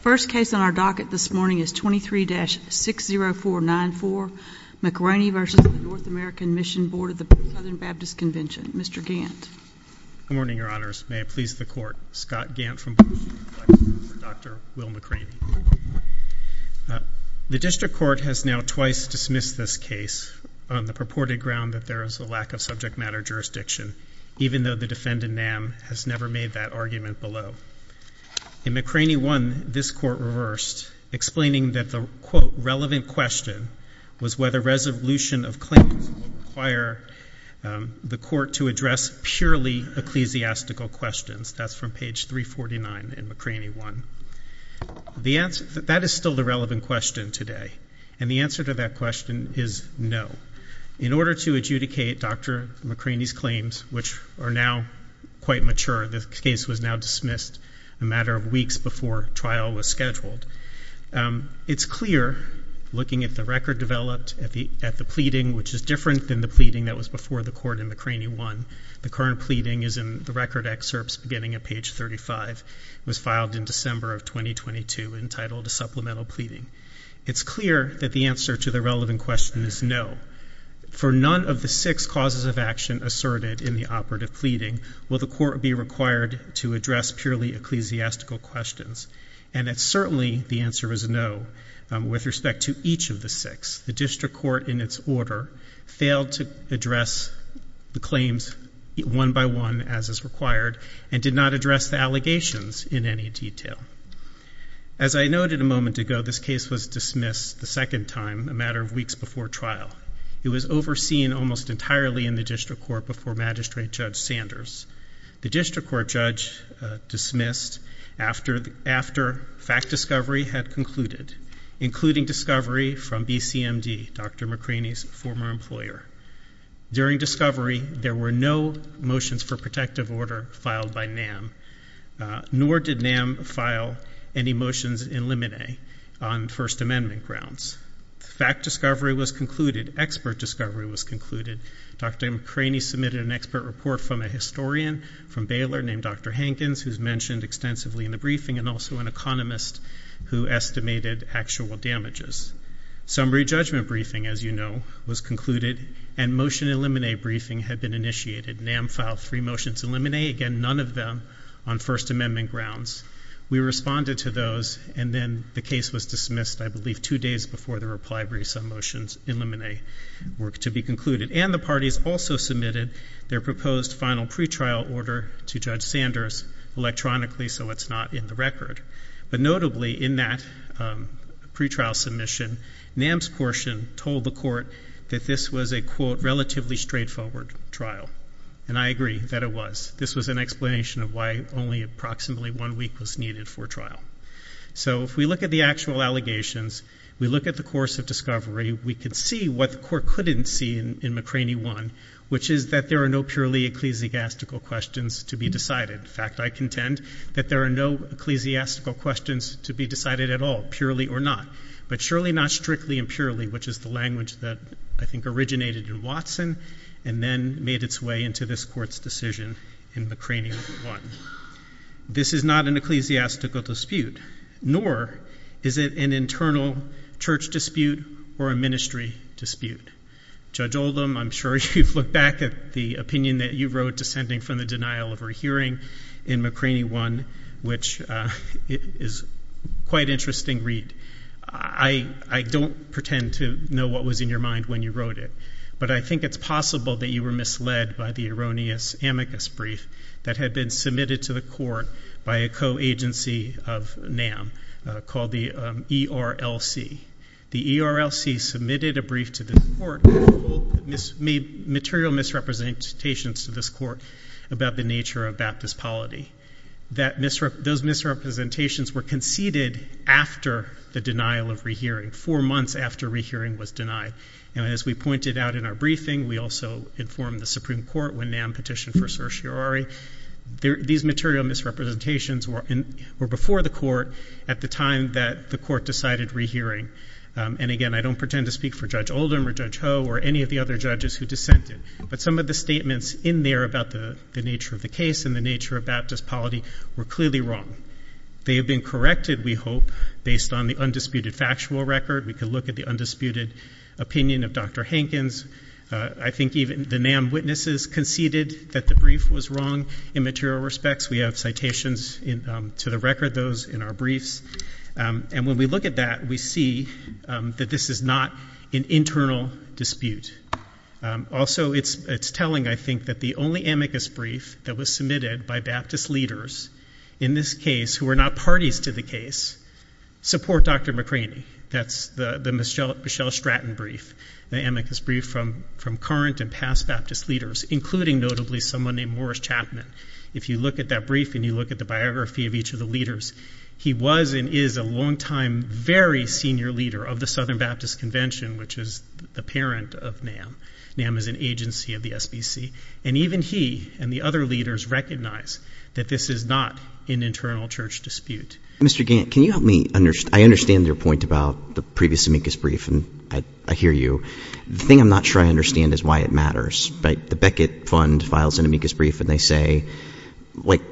First case on our docket this morning is 23-60494 McRaney v. N Amer Mission Board of the Southern Baptist Convention. Mr. Gantt. Good morning, your honors. May it please the court. Scott Gantt from Blue Cross and Blue Shield for Dr. Will McRaney. The district court has now twice dismissed this case on the purported ground that there is a lack of subject matter jurisdiction, even though the defendant, Nam, has never made that argument below. In McRaney 1, this court reversed, explaining that the quote relevant question was whether resolution of claims will require the court to address purely ecclesiastical questions. That's from page 349 in McRaney 1. The answer that that is still the relevant question today. And the answer to that question is no. In order to adjudicate Dr. McRaney's claims, which are now quite mature, this case was now dismissed a matter of weeks before trial was scheduled. It's clear looking at the record developed at the at the pleading, which is different than the pleading that was before the court in McRaney 1. The current pleading is in the record excerpts beginning at page 35. It was filed in December of 2022 entitled a supplemental pleading. It's clear that the answer to the relevant question is no. For none of the six causes of action asserted in the operative pleading, will the court be required to address purely ecclesiastical questions? And it's certainly the answer is no with respect to each of the six. The district court in its order failed to address the claims one by one as is required and did not address the allegations in any detail. As I noted a moment ago, this case was dismissed the second time a matter of weeks before trial. It was overseen almost entirely in the district court before Magistrate Judge Sanders. The district court judge dismissed after the after fact discovery had concluded, including discovery from BCMD, Dr. McRaney's former employer. During discovery, there were no motions for protective order filed by NAM, nor did NAM file any motions in limine on First Amendment grounds. Fact discovery was concluded. Expert discovery was concluded. Dr. McRaney submitted an expert report from a historian from Baylor named Dr. Hankins, who's mentioned extensively in the briefing and also an economist who estimated actual damages. Summary judgment briefing, as you know, was concluded and motion in limine briefing had been initiated. NAM filed three motions in limine, again, none of them on First Amendment grounds. We responded to those and then the case was dismissed, I believe, two days before the reply brief. Some motions in limine were to be concluded. And the parties also submitted their proposed final pretrial order to Judge Sanders electronically so it's not in the record. But notably in that pretrial submission, NAM's portion told the court that this was a, quote, relatively straightforward trial. And I agree that it was. This was an explanation of why only approximately one week was needed for trial. So if we look at the actual allegations, we look at the course of discovery, we can see what the court couldn't see in McRaney 1, which is that there are no purely ecclesiastical questions to be decided. In fact, I contend that there are no ecclesiastical questions to be decided at all, purely or not. But surely not strictly and purely, which is the language that I think originated in Watson and then made its way into this court's decision in McRaney 1. This is not an ecclesiastical dispute, nor is it an internal church dispute or a ministry dispute. Judge Oldham, I'm sure you've looked back at the opinion that you wrote descending from the denial of her hearing in McRaney 1, which is quite an interesting read. I don't pretend to know what was in your mind when you wrote it, but I think it's possible that you were misled by the erroneous amicus brief that had been submitted to the court by a co-agency of NAM called the ERLC. The ERLC submitted a brief to the court that made material misrepresentations to this court about the nature of baptist polity. Those misrepresentations were conceded after the denial of rehearing, four months after rehearing was denied. And as we pointed out in our briefing, we also informed the Supreme Court when NAM petitioned for certiorari. These material misrepresentations were before the court at the time that the court decided rehearing. And again, I don't pretend to speak for Judge Oldham or Judge Ho or any of the other judges who dissented, but some of the statements in there about the nature of the case and the nature of baptist polity were clearly wrong. They have been corrected, we hope, based on the undisputed factual record. We could look at the undisputed opinion of Dr. Hankins. I think even the NAM witnesses conceded that the brief was wrong in material respects. We have citations to the record, those in our briefs. And when we look at that, we see that this is not an internal dispute. Also, it's telling, I think, that the only amicus brief that was submitted by baptist leaders in this case, who were not parties to the case, support Dr. McCraney. That's the Michelle Stratton brief, the amicus brief from current and past baptist leaders, including notably someone named Morris Chapman. If you look at that brief and you look at the biography of each of the leaders, he was and is a longtime, very senior leader of the Southern Baptist Convention, which is the parent of NAM. NAM is an agency of the SBC. And even he and the other leaders recognize that this is not an internal church dispute. Mr. Gant, can you help me? I understand your point about the previous amicus brief, and I hear you. The thing I'm not sure I understand is why it matters. The Beckett Fund files an amicus brief and they say, like,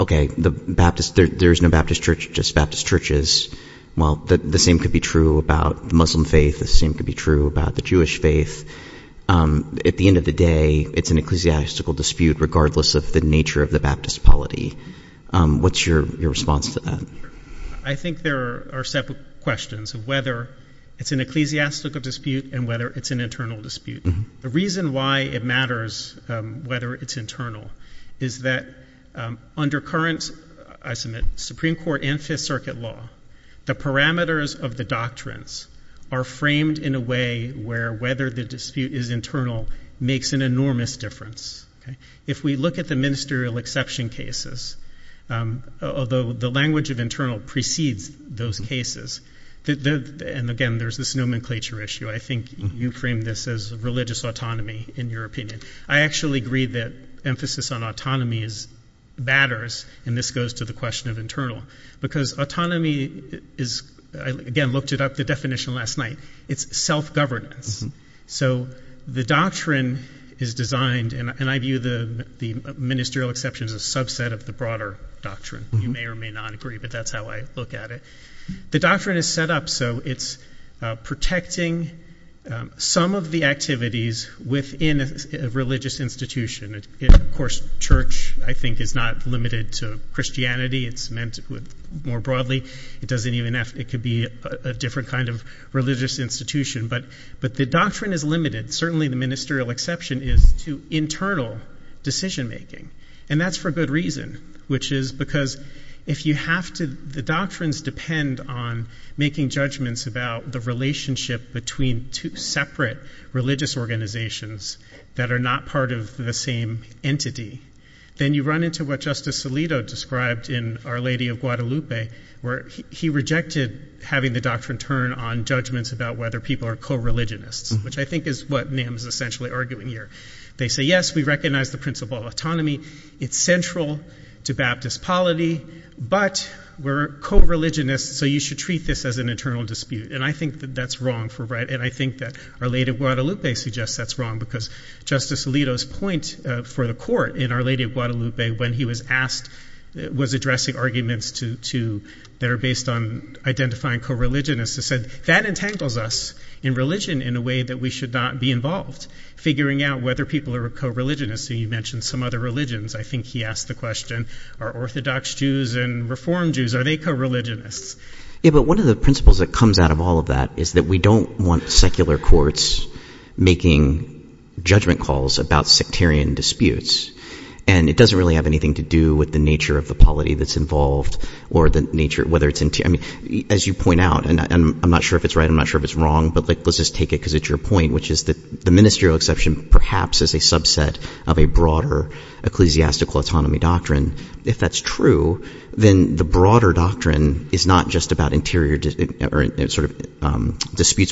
okay, there's no Baptist church, just Baptist churches. Well, the same could be true about the Muslim faith. The same could be true about the Jewish faith. At the end of the day, it's an ecclesiastical dispute, regardless of the nature of the baptist polity. What's your response to that? I think there are several questions of whether it's an ecclesiastical dispute and whether it's an internal dispute. The reason why it matters whether it's internal is that under current, I submit, Supreme Court and Fifth Circuit law, the parameters of the doctrines are framed in a way where whether the dispute is internal makes an enormous difference. If we look at the ministerial exception cases, although the language of internal precedes those cases, and, again, there's this nomenclature issue, I think you frame this as religious autonomy in your opinion. I actually agree that emphasis on autonomy matters, and this goes to the question of internal, because autonomy is, again, looked it up, the definition last night, it's self-governance. The doctrine is designed, and I view the ministerial exception as a subset of the broader doctrine. You may or may not agree, but that's how I look at it. The doctrine is set up so it's protecting some of the activities within a religious institution. Of course, church, I think, is not limited to Christianity. It's meant more broadly. It could be a different kind of religious institution. But the doctrine is limited, certainly the ministerial exception is, to internal decision-making, and that's for a good reason, which is because if you have to, the doctrines depend on making judgments about the relationship between two separate religious organizations that are not part of the same entity. Then you run into what Justice Alito described in Our Lady of Guadalupe, where he rejected having the doctrine turn on judgments about whether people are co-religionists, which I think is what NAM is essentially arguing here. They say, yes, we recognize the principle of autonomy. It's central to Baptist polity, but we're co-religionists, so you should treat this as an internal dispute. And I think that that's wrong, and I think that Our Lady of Guadalupe suggests that's wrong because Justice Alito's point for the court in Our Lady of Guadalupe, when he was addressing arguments that are based on identifying co-religionists, he said that entangles us in religion in a way that we should not be involved, figuring out whether people are co-religionists. You mentioned some other religions. I think he asked the question, are Orthodox Jews and Reform Jews, are they co-religionists? Yeah, but one of the principles that comes out of all of that is that we don't want secular courts making judgment calls about sectarian disputes, and it doesn't really have anything to do with the nature of the polity that's involved, or whether it's interior. As you point out, and I'm not sure if it's right, I'm not sure if it's wrong, but let's just take it because it's your point, which is that the ministerial exception perhaps is a subset of a broader ecclesiastical autonomy doctrine. If that's true, then the broader doctrine is not just about interior disputes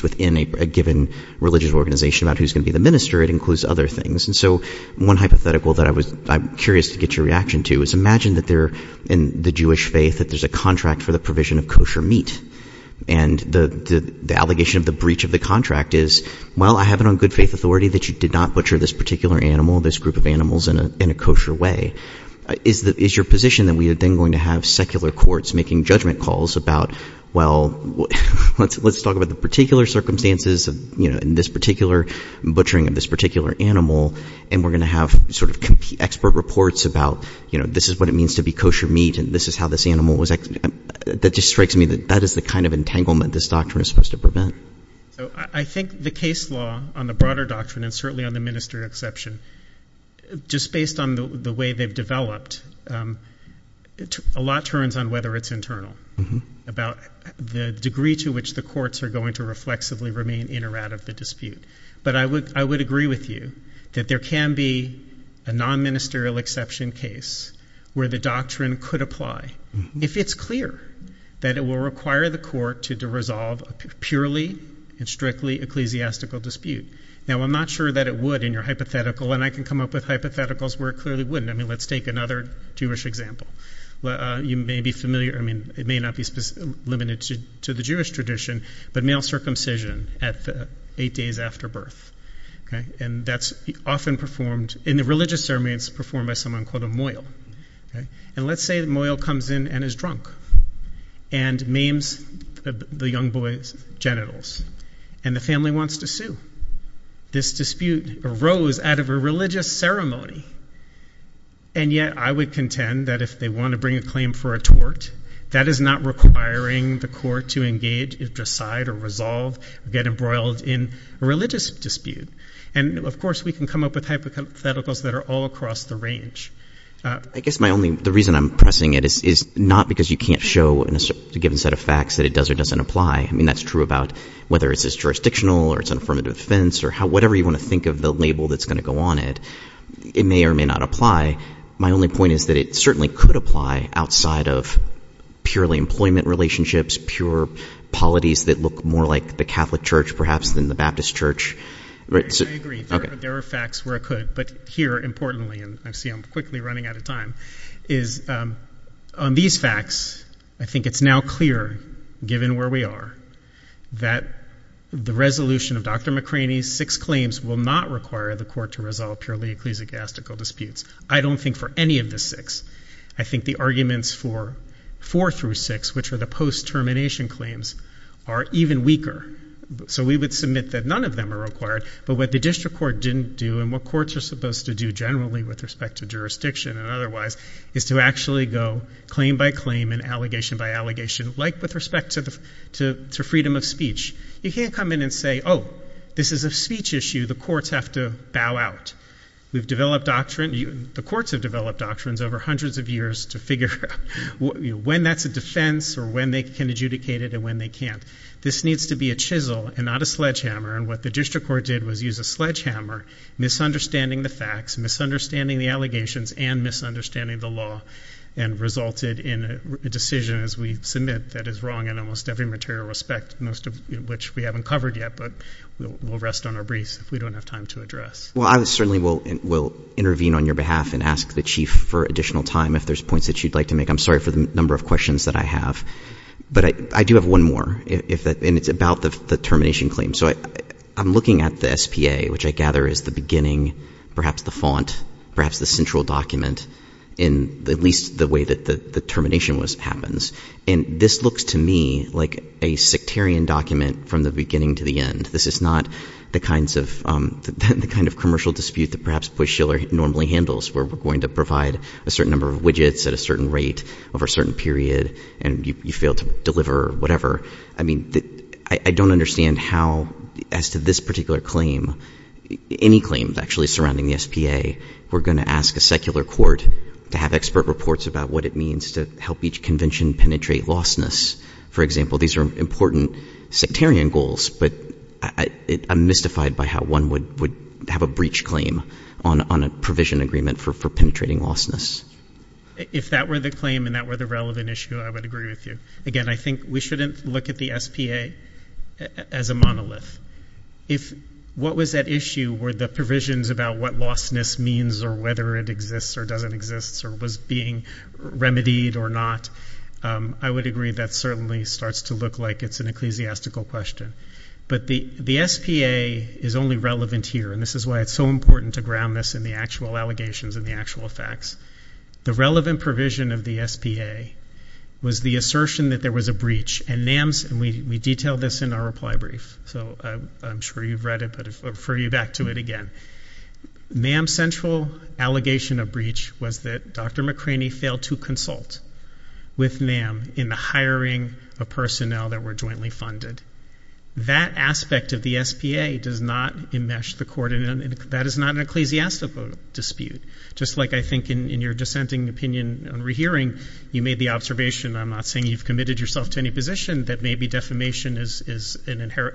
within a given religious organization about who's going to be the minister. It includes other things. And so one hypothetical that I'm curious to get your reaction to is imagine that they're in the Jewish faith, that there's a contract for the provision of kosher meat, and the allegation of the breach of the contract is, well, I have it on good faith authority that you did not butcher this particular animal, this group of animals, in a kosher way. Is your position that we are then going to have secular courts making judgment calls about, well, let's talk about the particular circumstances in this particular butchering of this particular animal, and we're going to have sort of expert reports about this is what it means to be kosher meat and this is how this animal was executed? That just strikes me that that is the kind of entanglement this doctrine is supposed to prevent. So I think the case law on the broader doctrine and certainly on the ministerial exception, just based on the way they've developed, a lot turns on whether it's internal, about the degree to which the courts are going to reflexively remain in or out of the dispute. But I would agree with you that there can be a non-ministerial exception case where the doctrine could apply, if it's clear that it will require the court to resolve a purely and strictly ecclesiastical dispute. Now, I'm not sure that it would in your hypothetical, and I can come up with hypotheticals where it clearly wouldn't. I mean, let's take another Jewish example. You may be familiar, I mean, it may not be limited to the Jewish tradition, but male circumcision at eight days after birth, and that's often performed in the religious ceremony. It's performed by someone called a mohel. And let's say the mohel comes in and is drunk and maims the young boy's genitals, and the family wants to sue. This dispute arose out of a religious ceremony, and yet I would contend that if they want to bring a claim for a tort, that is not requiring the court to engage, decide, or resolve or get embroiled in a religious dispute. And, of course, we can come up with hypotheticals that are all across the range. I guess the reason I'm pressing it is not because you can't show in a given set of facts that it does or doesn't apply. I mean, that's true about whether it's jurisdictional or it's an affirmative defense or whatever you want to think of the label that's going to go on it. It may or may not apply. My only point is that it certainly could apply outside of purely employment relationships, pure polities that look more like the Catholic Church perhaps than the Baptist Church. I agree. There are facts where it could, but here, importantly, and I see I'm quickly running out of time, is on these facts I think it's now clear, given where we are, that the resolution of Dr. McCraney's six claims will not require the court to resolve purely ecclesiastical disputes. I don't think for any of the six. I think the arguments for four through six, which are the post-termination claims, are even weaker. So we would submit that none of them are required, but what the district court didn't do and what courts are supposed to do generally with respect to jurisdiction and otherwise is to actually go claim by claim and allegation by allegation, like with respect to freedom of speech. You can't come in and say, oh, this is a speech issue. The courts have to bow out. We've developed doctrine. The courts have developed doctrines over hundreds of years to figure out when that's a defense or when they can adjudicate it and when they can't. This needs to be a chisel and not a sledgehammer, and what the district court did was use a sledgehammer, misunderstanding the facts, misunderstanding the allegations, and misunderstanding the law, and resulted in a decision, as we submit, that is wrong in almost every material respect, most of which we haven't covered yet, but we'll rest on our briefs if we don't have time to address. Well, I certainly will intervene on your behalf and ask the chief for additional time if there's points that you'd like to make. I'm sorry for the number of questions that I have, but I do have one more, and it's about the termination claim. So I'm looking at the SPA, which I gather is the beginning, perhaps the font, perhaps the central document in at least the way that the termination happens, and this looks to me like a sectarian document from the beginning to the end. This is not the kind of commercial dispute that perhaps Bush-Shiller normally handles where we're going to provide a certain number of widgets at a certain rate over a certain period and you fail to deliver or whatever. I mean, I don't understand how, as to this particular claim, any claim actually surrounding the SPA, we're going to ask a secular court to have expert reports about what it means to help each convention penetrate lostness. For example, these are important sectarian goals, but I'm mystified by how one would have a breach claim on a provision agreement for penetrating lostness. If that were the claim and that were the relevant issue, I would agree with you. Again, I think we shouldn't look at the SPA as a monolith. If what was at issue were the provisions about what lostness means or whether it exists or doesn't exist or was being remedied or not, I would agree that certainly starts to look like it's an ecclesiastical question. But the SPA is only relevant here, and this is why it's so important to ground this in the actual allegations and the actual facts. The relevant provision of the SPA was the assertion that there was a breach, and we detail this in our reply brief, so I'm sure you've read it, but I'll refer you back to it again. NAM's central allegation of breach was that Dr. McCraney failed to consult with NAM in the hiring of personnel that were jointly funded. That aspect of the SPA does not enmesh the court, and that is not an ecclesiastical dispute. Just like I think in your dissenting opinion on rehearing, you made the observation, and I'm not saying you've committed yourself to any position, that maybe defamation is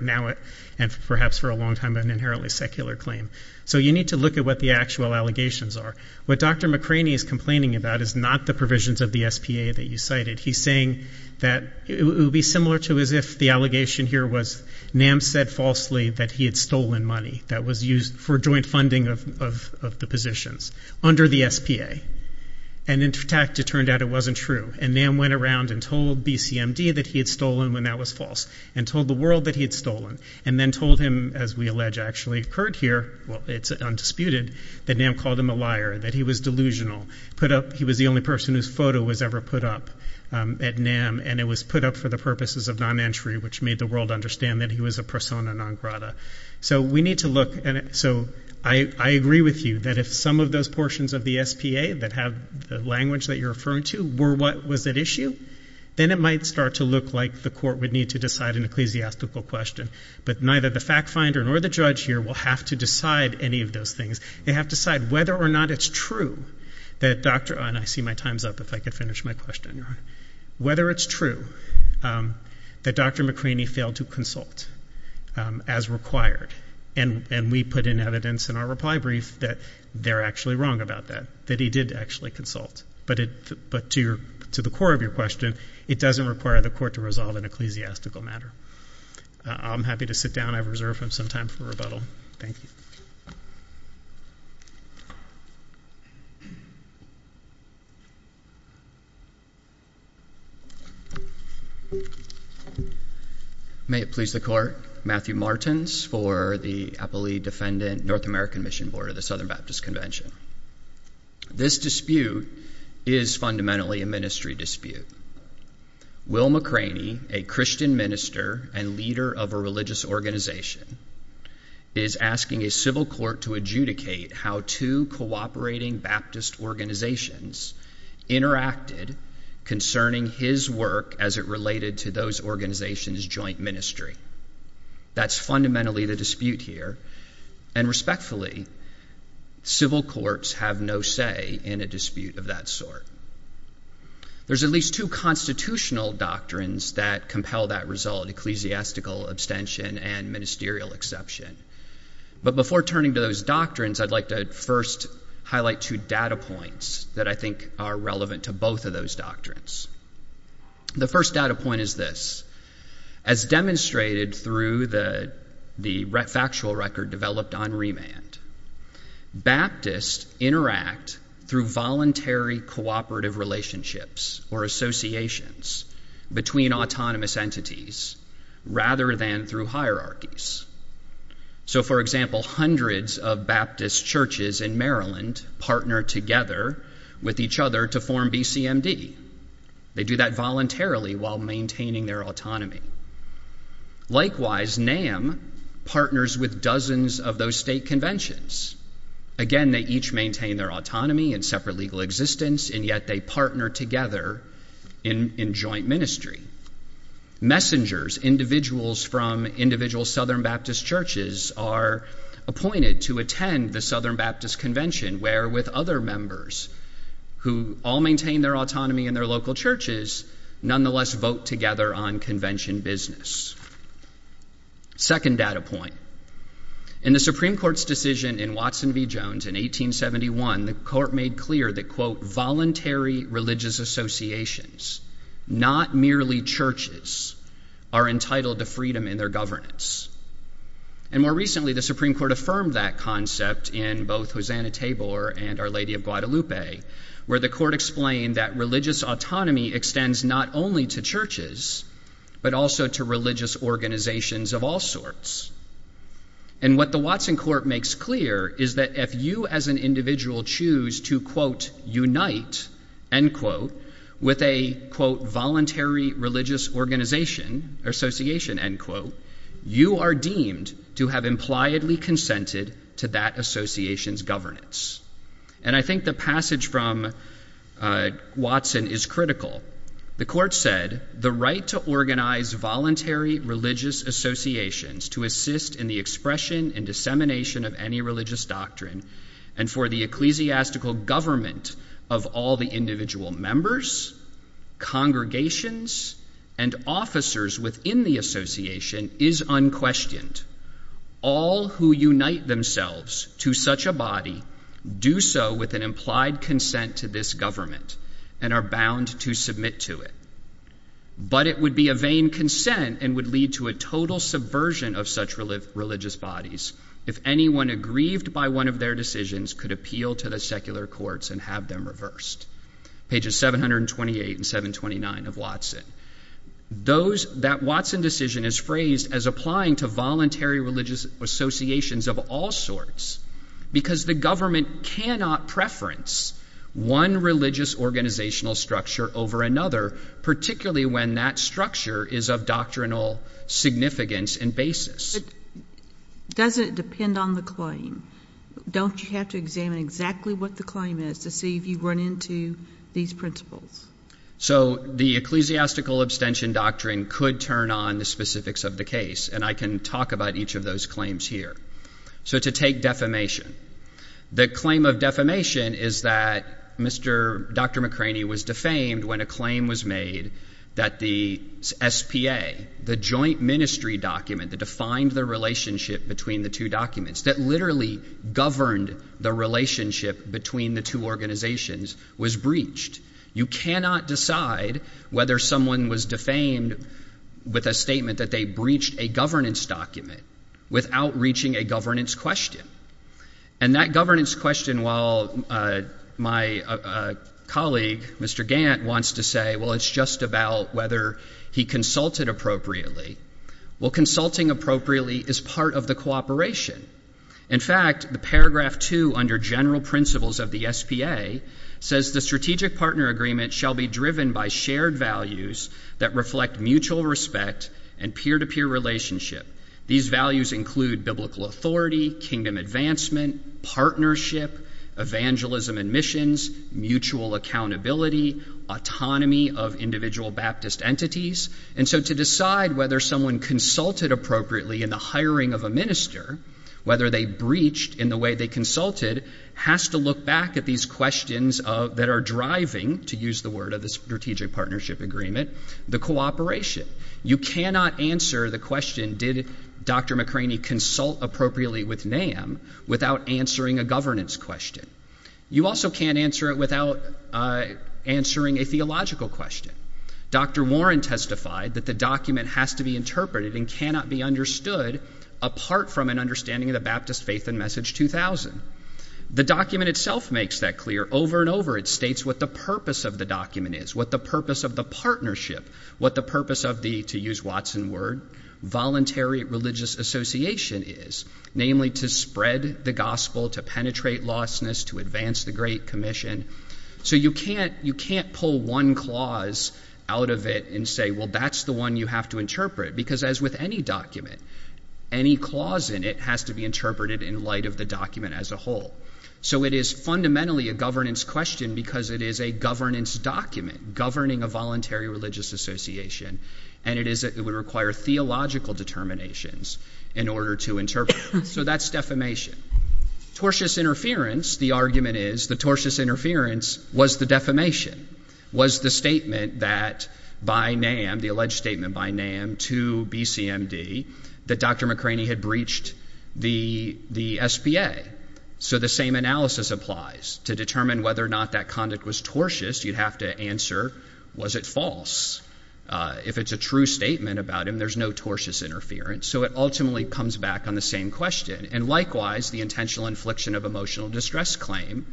now and perhaps for a long time an inherently secular claim. So you need to look at what the actual allegations are. What Dr. McCraney is complaining about is not the provisions of the SPA that you cited. He's saying that it would be similar to as if the allegation here was NAM said falsely that he had stolen money that was used for joint funding of the positions under the SPA, and in fact it turned out it wasn't true, and NAM went around and told BCMD that he had stolen when that was false, and told the world that he had stolen, and then told him, as we allege actually occurred here, well it's undisputed, that NAM called him a liar, that he was delusional. He was the only person whose photo was ever put up at NAM, and it was put up for the purposes of non-entry, which made the world understand that he was a persona non grata. So we need to look, and so I agree with you that if some of those portions of the SPA that have the language that you're referring to were what was at issue, then it might start to look like the court would need to decide an ecclesiastical question, but neither the fact finder nor the judge here will have to decide any of those things. They have to decide whether or not it's true that Dr., and I see my time's up if I could finish my question. Whether it's true that Dr. McCraney failed to consult as required, and we put in evidence in our reply brief that they're actually wrong about that, that he did actually consult. But to the core of your question, it doesn't require the court to resolve an ecclesiastical matter. I'm happy to sit down. I've reserved some time for rebuttal. Thank you. May it please the court. Matthew Martins for the Appellee Defendant, North American Mission Board of the Southern Baptist Convention. This dispute is fundamentally a ministry dispute. Will McCraney, a Christian minister and leader of a religious organization, is asking a civil court to adjudicate how two cooperating Baptist organizations interacted concerning his work as it related to those organizations' joint ministry. That's fundamentally the dispute here, and respectfully, civil courts have no say in a dispute of that sort. There's at least two constitutional doctrines that compel that result, ecclesiastical abstention and ministerial exception. But before turning to those doctrines, I'd like to first highlight two data points that I think are relevant to both of those doctrines. The first data point is this. As demonstrated through the factual record developed on remand, Baptists interact through voluntary cooperative relationships or associations between autonomous entities rather than through hierarchies. So, for example, hundreds of Baptist churches in Maryland partner together with each other to form BCMD. They do that voluntarily while maintaining their autonomy. Likewise, NAM partners with dozens of those state conventions. Again, they each maintain their autonomy and separate legal existence, and yet they partner together in joint ministry. Messengers, individuals from individual Southern Baptist churches, are appointed to attend the Southern Baptist Convention, where, with other members who all maintain their autonomy in their local churches, nonetheless vote together on convention business. Second data point. In the Supreme Court's decision in Watson v. Jones in 1871, the court made clear that, quote, voluntary religious associations, not merely churches, are entitled to freedom in their governance. And more recently, the Supreme Court affirmed that concept in both Hosanna Tabor and Our Lady of Guadalupe, where the court explained that religious autonomy extends not only to churches, but also to religious organizations of all sorts. And what the Watson court makes clear is that if you as an individual choose to, quote, unite, end quote, with a, quote, voluntary religious organization, association, end quote, you are deemed to have impliedly consented to that association's governance. And I think the passage from Watson is critical. The court said the right to organize voluntary religious associations to assist in the expression and dissemination of any religious doctrine and for the ecclesiastical government of all the individual members, congregations, and officers within the association is unquestioned. All who unite themselves to such a body do so with an implied consent to this government and are bound to submit to it. But it would be a vain consent and would lead to a total subversion of such religious bodies if anyone aggrieved by one of their decisions could appeal to the secular courts and have them reversed. Pages 728 and 729 of Watson. That Watson decision is phrased as applying to voluntary religious associations of all sorts because the government cannot preference one religious organizational structure over another, particularly when that structure is of doctrinal significance and basis. But doesn't it depend on the claim? Don't you have to examine exactly what the claim is to see if you run into these principles? So the ecclesiastical abstention doctrine could turn on the specifics of the case, and I can talk about each of those claims here. So to take defamation, the claim of defamation is that Dr. McCraney was defamed when a claim was made that the SPA, the joint ministry document that defined the relationship between the two documents, that literally governed the relationship between the two organizations, was breached. You cannot decide whether someone was defamed with a statement that they breached a governance document without reaching a governance question. And that governance question, while my colleague, Mr. Gant, wants to say, well, it's just about whether he consulted appropriately, well, consulting appropriately is part of the cooperation. In fact, the paragraph 2 under general principles of the SPA says, the strategic partner agreement shall be driven by shared values that reflect mutual respect and peer-to-peer relationship. These values include biblical authority, kingdom advancement, partnership, evangelism and missions, mutual accountability, autonomy of individual Baptist entities. And so to decide whether someone consulted appropriately in the hiring of a minister, whether they breached in the way they consulted, has to look back at these questions that are driving, to use the word of the strategic partnership agreement, the cooperation. You cannot answer the question, did Dr. McCraney consult appropriately with NAM, without answering a governance question. You also can't answer it without answering a theological question. Dr. Warren testified that the document has to be interpreted and cannot be understood apart from an understanding of the Baptist faith and message 2000. The document itself makes that clear. Over and over it states what the purpose of the document is, what the purpose of the partnership, what the purpose of the, to use Watson's word, voluntary religious association is, namely to spread the gospel, to penetrate lostness, to advance the great commission. So you can't pull one clause out of it and say, well, that's the one you have to interpret, because as with any document, any clause in it has to be interpreted in light of the document as a whole. So it is fundamentally a governance question because it is a governance document, governing a voluntary religious association, and it would require theological determinations in order to interpret it. So that's defamation. Tortious interference, the argument is, the tortious interference was the defamation, was the statement that by NAM, the alleged statement by NAM to BCMD, that Dr. McCraney had breached the SPA. So the same analysis applies. To determine whether or not that conduct was tortious, you'd have to answer, was it false? If it's a true statement about him, there's no tortious interference. So it ultimately comes back on the same question. And likewise, the intentional infliction of emotional distress claim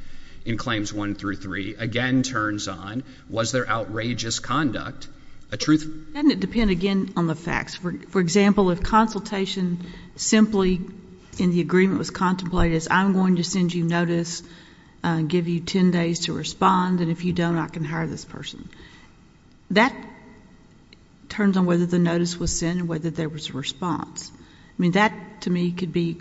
in Claims 1 through 3 again turns on, was their outrageous conduct a truth? Doesn't it depend, again, on the facts? For example, if consultation simply in the agreement was contemplated as I'm going to send you notice, give you 10 days to respond, and if you don't, I can hire this person. That turns on whether the notice was sent and whether there was a response. I mean, that to me could be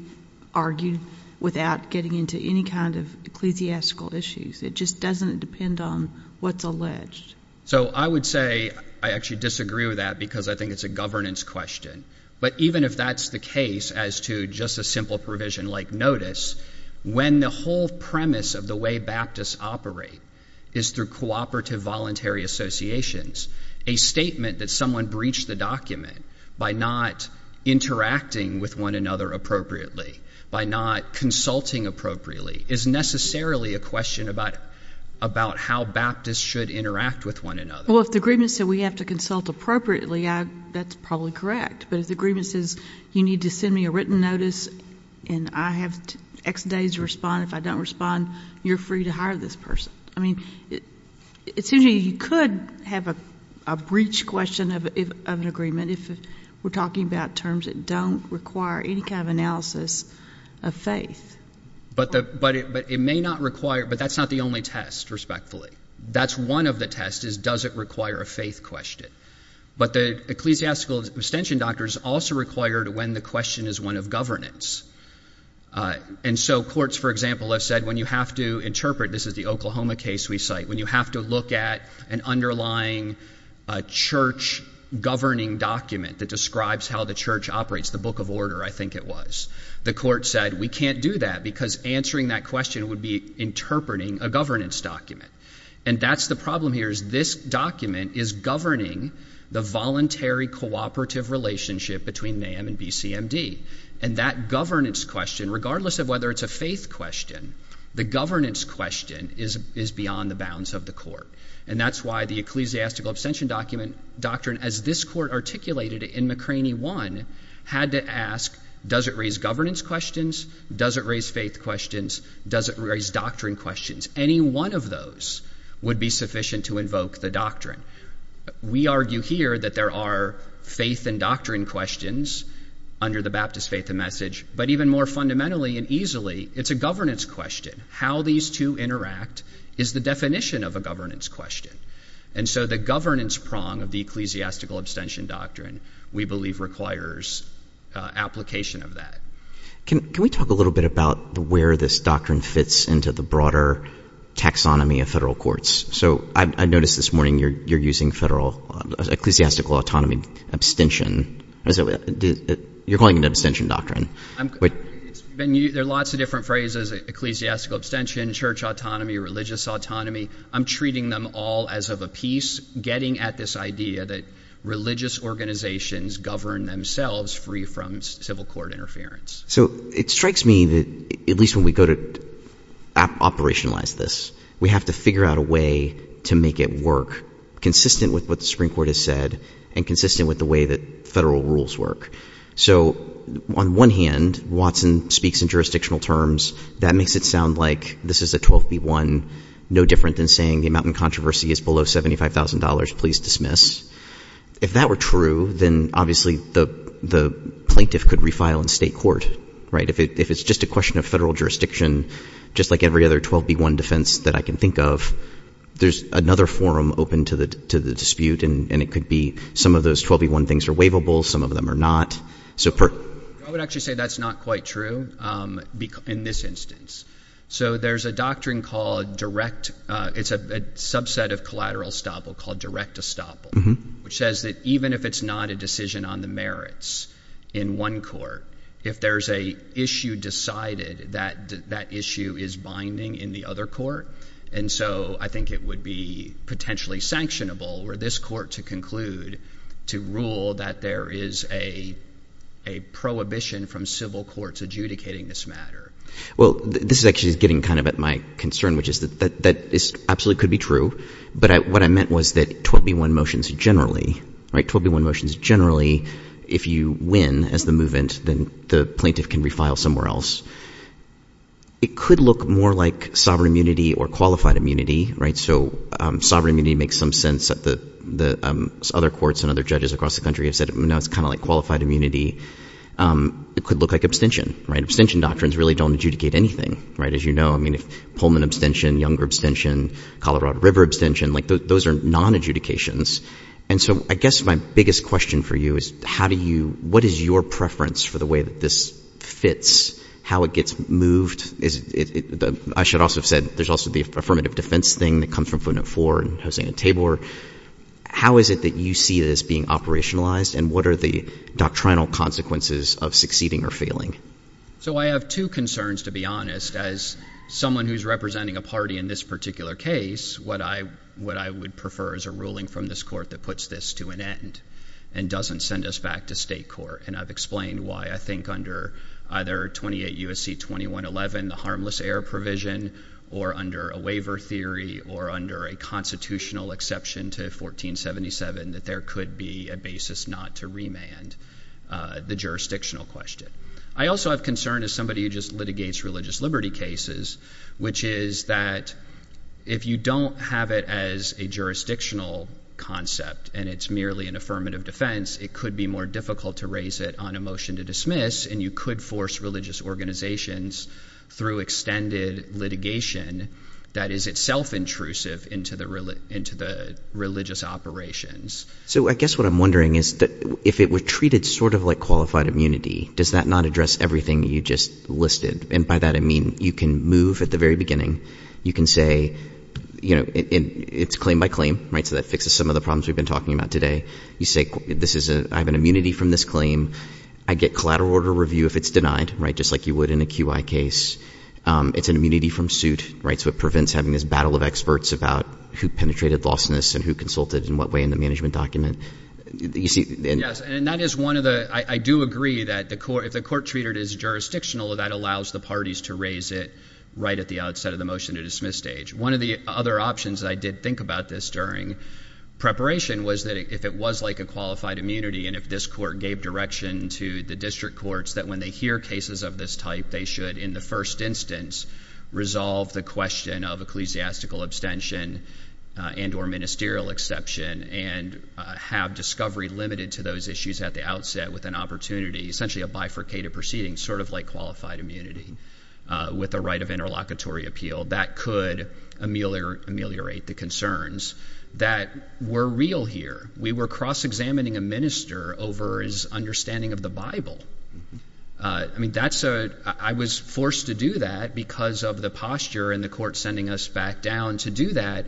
argued without getting into any kind of ecclesiastical issues. It just doesn't depend on what's alleged. So I would say I actually disagree with that because I think it's a governance question. But even if that's the case as to just a simple provision like notice, when the whole premise of the way Baptists operate is through cooperative voluntary associations, a statement that someone breached the document by not interacting with one another appropriately, by not consulting appropriately, is necessarily a question about how Baptists should interact with one another. Well, if the agreement said we have to consult appropriately, that's probably correct. But if the agreement says you need to send me a written notice and I have X days to respond, if I don't respond, you're free to hire this person. I mean, it seems to me you could have a breach question of an agreement if we're talking about terms that don't require any kind of analysis of faith. But it may not require, but that's not the only test, respectfully. That's one of the tests is does it require a faith question. But the ecclesiastical abstention doctor is also required when the question is one of governance. And so courts, for example, have said when you have to interpret, this is the Oklahoma case we cite, when you have to look at an underlying church governing document that describes how the church operates, the Book of Order, I think it was. The court said we can't do that because answering that question would be interpreting a governance document. And that's the problem here is this document is governing the voluntary cooperative relationship between NAM and BCMD. And that governance question, regardless of whether it's a faith question, the governance question is beyond the bounds of the court. And that's why the ecclesiastical abstention doctrine, as this court articulated it in McCraney 1, had to ask does it raise governance questions, does it raise faith questions, does it raise doctrine questions. Any one of those would be sufficient to invoke the doctrine. We argue here that there are faith and doctrine questions under the Baptist faith and message. But even more fundamentally and easily, it's a governance question. How these two interact is the definition of a governance question. And so the governance prong of the ecclesiastical abstention doctrine, we believe, requires application of that. Can we talk a little bit about where this doctrine fits into the broader taxonomy of federal courts? So I noticed this morning you're using federal ecclesiastical autonomy abstention. You're calling it an abstention doctrine. There are lots of different phrases, ecclesiastical abstention, church autonomy, religious autonomy. I'm treating them all as of a piece getting at this idea that religious organizations govern themselves free from civil court interference. So it strikes me that at least when we go to operationalize this, we have to figure out a way to make it work consistent with what the Supreme Court has said and consistent with the way that federal rules work. So on one hand, Watson speaks in jurisdictional terms. That makes it sound like this is a 12B1, no different than saying the amount in controversy is below $75,000. Please dismiss. If that were true, then obviously the plaintiff could refile in state court. If it's just a question of federal jurisdiction, just like every other 12B1 defense that I can think of, there's another forum open to the dispute, and it could be some of those 12B1 things are waivable, some of them are not. I would actually say that's not quite true in this instance. So there's a doctrine called direct – it's a subset of collateral estoppel called direct estoppel, which says that even if it's not a decision on the merits in one court, if there's an issue decided, that issue is binding in the other court. And so I think it would be potentially sanctionable for this court to conclude, to rule that there is a prohibition from civil courts adjudicating this matter. Well, this is actually getting kind of at my concern, which is that this absolutely could be true, but what I meant was that 12B1 motions generally, right, 12B1 motions generally, if you win as the movement, then the plaintiff can refile somewhere else. It could look more like sovereign immunity or qualified immunity, right? So sovereign immunity makes some sense that the other courts and other judges across the country have said. Now it's kind of like qualified immunity. It could look like abstention, right? They don't adjudicate anything, right, as you know. I mean, if Pullman abstention, Younger abstention, Colorado River abstention, like those are nonadjudications. And so I guess my biggest question for you is how do you – what is your preference for the way that this fits, how it gets moved? I should also have said there's also the affirmative defense thing that comes from footnote 4 and Hosein and Tabor. How is it that you see this being operationalized, and what are the doctrinal consequences of succeeding or failing? So I have two concerns, to be honest. As someone who's representing a party in this particular case, what I would prefer is a ruling from this court that puts this to an end and doesn't send us back to state court. And I've explained why I think under either 28 U.S.C. 2111, the harmless air provision, or under a waiver theory or under a constitutional exception to 1477, that there could be a basis not to remand the jurisdictional question. I also have concern as somebody who just litigates religious liberty cases, which is that if you don't have it as a jurisdictional concept and it's merely an affirmative defense, it could be more difficult to raise it on a motion to dismiss, and you could force religious organizations through extended litigation that is itself intrusive into the religious operations. So I guess what I'm wondering is that if it were treated sort of like qualified immunity, does that not address everything you just listed? And by that, I mean you can move at the very beginning. You can say, you know, it's claim by claim, right? So that fixes some of the problems we've been talking about today. You say this is a I have an immunity from this claim. I get collateral order review if it's denied, right, just like you would in a QI case. It's an immunity from suit, right? So it prevents having this battle of experts about who penetrated lawlessness and who consulted in what way in the management document. Yes, and that is one of the – I do agree that if the court treated it as jurisdictional, that allows the parties to raise it right at the outset of the motion to dismiss stage. One of the other options I did think about this during preparation was that if it was like a qualified immunity and if this court gave direction to the district courts that when they hear cases of this type, that they should in the first instance resolve the question of ecclesiastical abstention and or ministerial exception and have discovery limited to those issues at the outset with an opportunity, essentially a bifurcated proceeding sort of like qualified immunity with the right of interlocutory appeal, that could ameliorate the concerns that were real here. We were cross-examining a minister over his understanding of the Bible. I mean, that's a – I was forced to do that because of the posture in the court sending us back down to do that,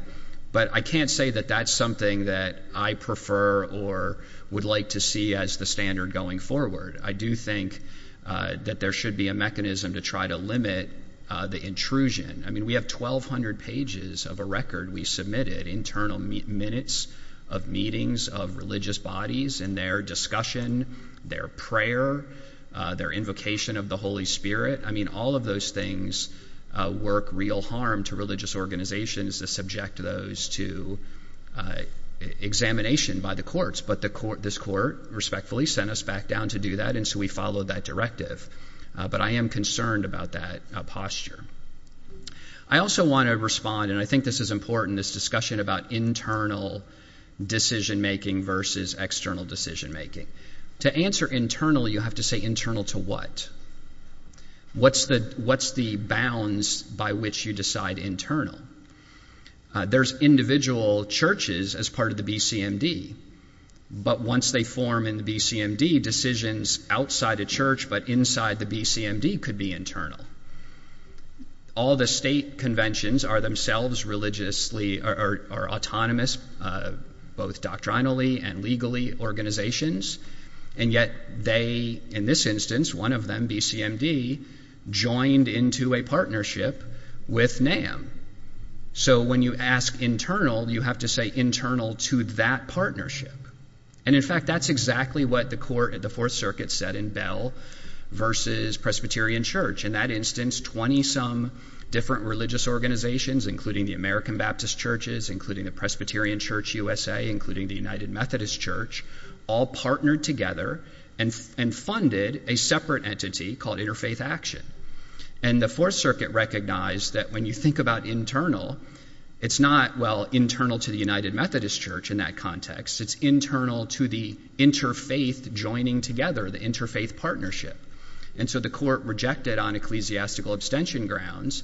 but I can't say that that's something that I prefer or would like to see as the standard going forward. I do think that there should be a mechanism to try to limit the intrusion. I mean, we have 1,200 pages of a record we submitted, internal minutes of meetings of religious bodies and their discussion, their prayer, their invocation of the Holy Spirit. I mean, all of those things work real harm to religious organizations that subject those to examination by the courts, but this court respectfully sent us back down to do that, and so we followed that directive. But I am concerned about that posture. I also want to respond, and I think this is important, this discussion about internal decision-making versus external decision-making. To answer internal, you have to say internal to what? What's the bounds by which you decide internal? There's individual churches as part of the BCMD, but once they form in the BCMD, decisions outside a church but inside the BCMD could be internal. All the state conventions are themselves religiously or autonomous, both doctrinally and legally, organizations, and yet they, in this instance, one of them, BCMD, joined into a partnership with NAM. So when you ask internal, you have to say internal to that partnership. And in fact, that's exactly what the court at the Fourth Circuit said in Bell versus Presbyterian Church. In that instance, 20-some different religious organizations, including the American Baptist Churches, including the Presbyterian Church USA, including the United Methodist Church, all partnered together and funded a separate entity called Interfaith Action. And the Fourth Circuit recognized that when you think about internal, it's not, well, internal to the United Methodist Church in that context. It's internal to the interfaith joining together, the interfaith partnership. And so the court rejected, on ecclesiastical abstention grounds,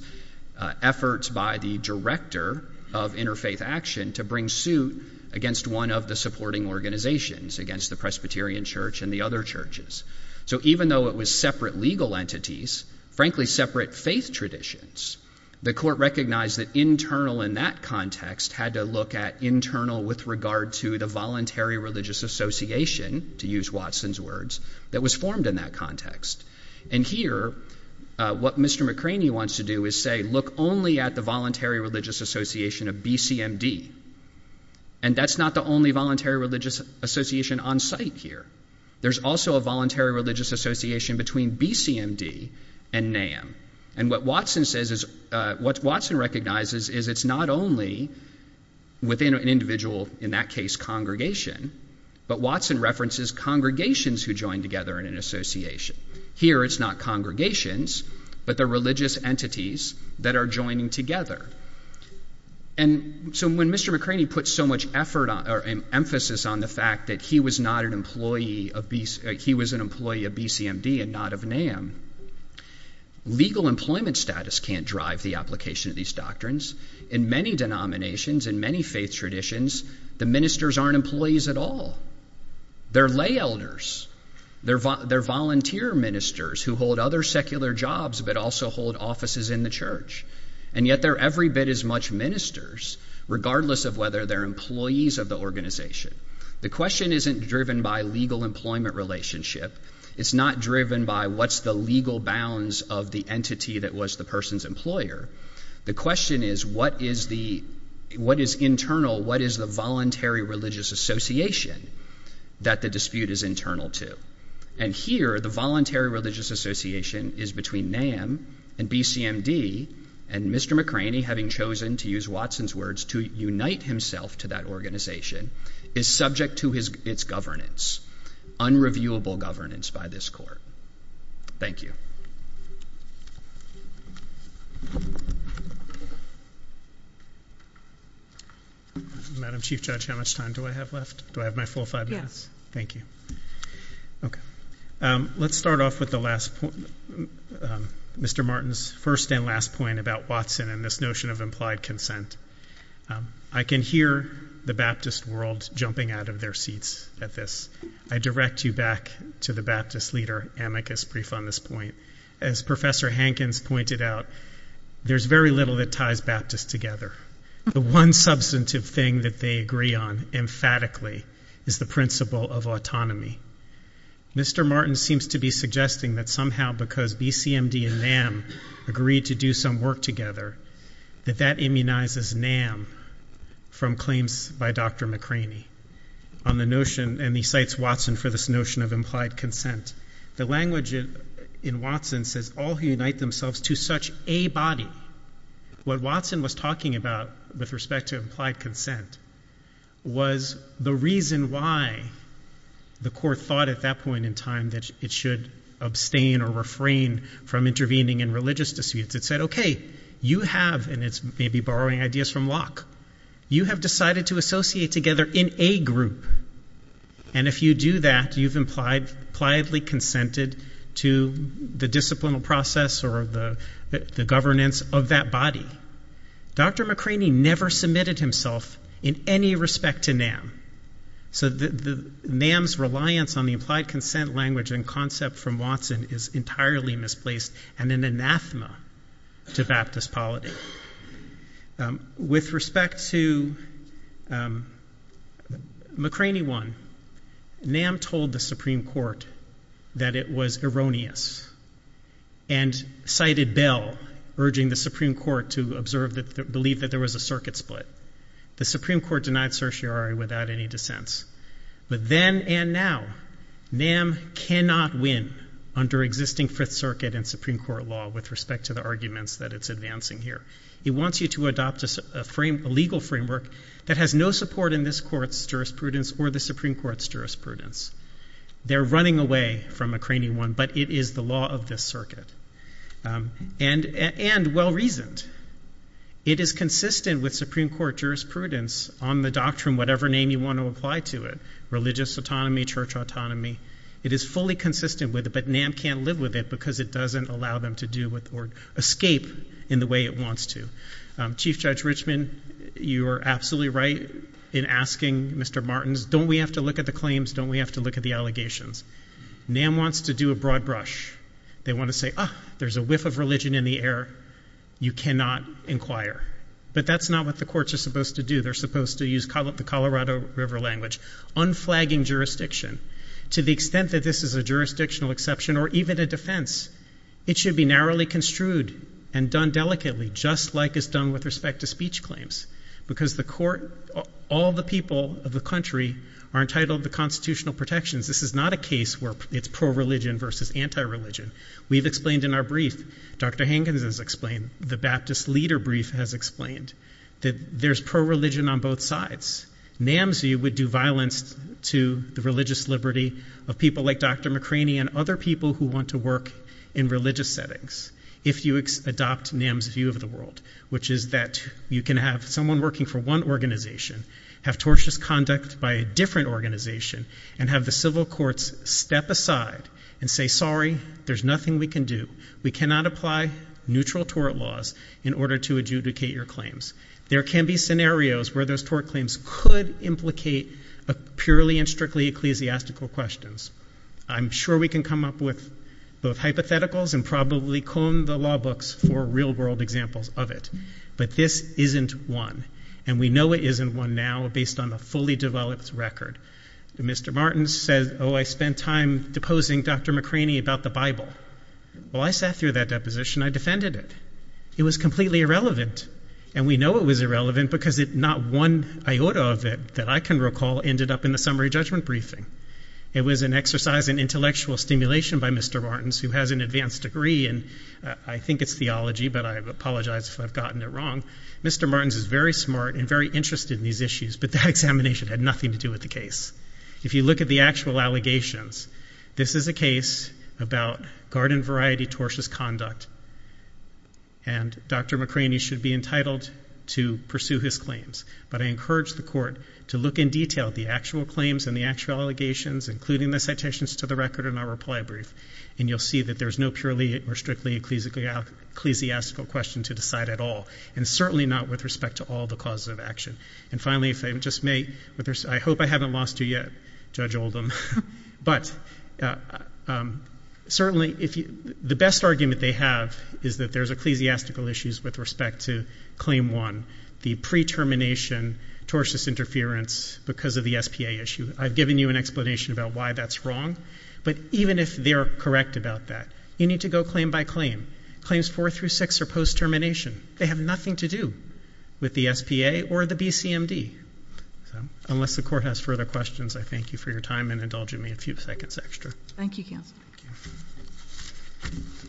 efforts by the director of Interfaith Action to bring suit against one of the supporting organizations, against the Presbyterian Church and the other churches. So even though it was separate legal entities, frankly separate faith traditions, the court recognized that internal in that context had to look at internal with regard to the Voluntary Religious Association, to use Watson's words, that was formed in that context. And here, what Mr. McCraney wants to do is say, look only at the Voluntary Religious Association of BCMD. And that's not the only Voluntary Religious Association on site here. There's also a Voluntary Religious Association between BCMD and NAM. And what Watson recognizes is it's not only within an individual, in that case congregation, but Watson references congregations who join together in an association. Here it's not congregations, but the religious entities that are joining together. And so when Mr. McCraney put so much emphasis on the fact that he was an employee of BCMD and not of NAM, legal employment status can't drive the application of these doctrines. In many denominations, in many faith traditions, the ministers aren't employees at all. They're lay elders. They're volunteer ministers who hold other secular jobs, but also hold offices in the church. And yet they're every bit as much ministers, regardless of whether they're employees of the organization. The question isn't driven by legal employment relationship. It's not driven by what's the legal bounds of the entity that was the person's employer. The question is what is internal, what is the Voluntary Religious Association that the dispute is internal to? And here the Voluntary Religious Association is between NAM and BCMD, and Mr. McCraney having chosen, to use Watson's words, to unite himself to that organization, is subject to its governance, unreviewable governance by this court. Thank you. Madam Chief Judge, how much time do I have left? Do I have my full five minutes? Thank you. Let's start off with Mr. Martin's first and last point about Watson and this notion of implied consent. I can hear the Baptist world jumping out of their seats at this. I direct you back to the Baptist leader, Amicus, brief on this point. As Professor Hankins pointed out, there's very little that ties Baptists together. The one substantive thing that they agree on emphatically is the principle of autonomy. Mr. Martin seems to be suggesting that somehow because BCMD and NAM agreed to do some work together, that that immunizes NAM from claims by Dr. McCraney on the notion, and he cites Watson for this notion of implied consent. The language in Watson says, all who unite themselves to such a body. What Watson was talking about with respect to implied consent was the reason why the court thought at that point in time that it should abstain or refrain from intervening in religious disputes. It said, okay, you have, and it's maybe borrowing ideas from Locke, you have decided to associate together in a group, and if you do that, you've impliedly consented to the disciplinary process or the governance of that body. Dr. McCraney never submitted himself in any respect to NAM. So NAM's reliance on the implied consent language and concept from Watson is entirely misplaced and an anathema to Baptist polity. With respect to McCraney one, NAM told the Supreme Court that it was erroneous and cited Bell, urging the Supreme Court to observe, believe that there was a circuit split. The Supreme Court denied certiorari without any dissents. But then and now, NAM cannot win under existing Fifth Circuit and Supreme Court law with respect to the arguments that it's advancing here. It wants you to adopt a legal framework that has no support in this court's jurisprudence or the Supreme Court's jurisprudence. They're running away from McCraney one, but it is the law of this circuit and well-reasoned. It is consistent with Supreme Court jurisprudence on the doctrine, whatever name you want to apply to it, religious autonomy, church autonomy. It is fully consistent with it, but NAM can't live with it because it doesn't allow them to do or escape in the way it wants to. Chief Judge Richman, you are absolutely right in asking Mr. Martins, don't we have to look at the claims, don't we have to look at the allegations? NAM wants to do a broad brush. They want to say, ah, there's a whiff of religion in the air. You cannot inquire. But that's not what the courts are supposed to do. They're supposed to use the Colorado River language, unflagging jurisdiction. To the extent that this is a jurisdictional exception or even a defense, it should be narrowly construed and done delicately just like it's done with respect to speech claims because the court, all the people of the country are entitled to constitutional protections. This is not a case where it's pro-religion versus anti-religion. We've explained in our brief, Dr. Hankins has explained, the Baptist leader brief has explained that there's pro-religion on both sides. NAM's view would do violence to the religious liberty of people like Dr. McCraney and other people who want to work in religious settings if you adopt NAM's view of the world, which is that you can have someone working for one organization, have tortious conduct by a different organization, and have the civil courts step aside and say, sorry, there's nothing we can do. We cannot apply neutral tort laws in order to adjudicate your claims. There can be scenarios where those tort claims could implicate purely and strictly ecclesiastical questions. I'm sure we can come up with both hypotheticals and probably clone the law books for real-world examples of it. But this isn't one, and we know it isn't one now based on a fully developed record. Mr. Martins says, oh, I spent time deposing Dr. McCraney about the Bible. Well, I sat through that deposition. I defended it. It was completely irrelevant, and we know it was irrelevant because not one iota of it that I can recall ended up in the summary judgment briefing. It was an exercise in intellectual stimulation by Mr. Martins, who has an advanced degree in, I think it's theology, but I apologize if I've gotten it wrong. Mr. Martins is very smart and very interested in these issues, but that examination had nothing to do with the case. If you look at the actual allegations, this is a case about garden-variety tortious conduct, and Dr. McCraney should be entitled to pursue his claims. But I encourage the court to look in detail at the actual claims and the actual allegations, including the citations to the record in our reply brief, and you'll see that there's no purely or strictly ecclesiastical question to decide at all, and certainly not with respect to all the causes of action. And finally, if I just may, I hope I haven't lost you yet, Judge Oldham, but certainly the best argument they have is that there's ecclesiastical issues with respect to Claim 1, the pre-termination tortious interference because of the SPA issue. I've given you an explanation about why that's wrong, but even if they're correct about that, you need to go claim by claim. Claims 4 through 6 are post-termination. They have nothing to do with the SPA or the BCMD. Unless the court has further questions, I thank you for your time and indulge me a few seconds extra. Thank you, counsel. Thank you.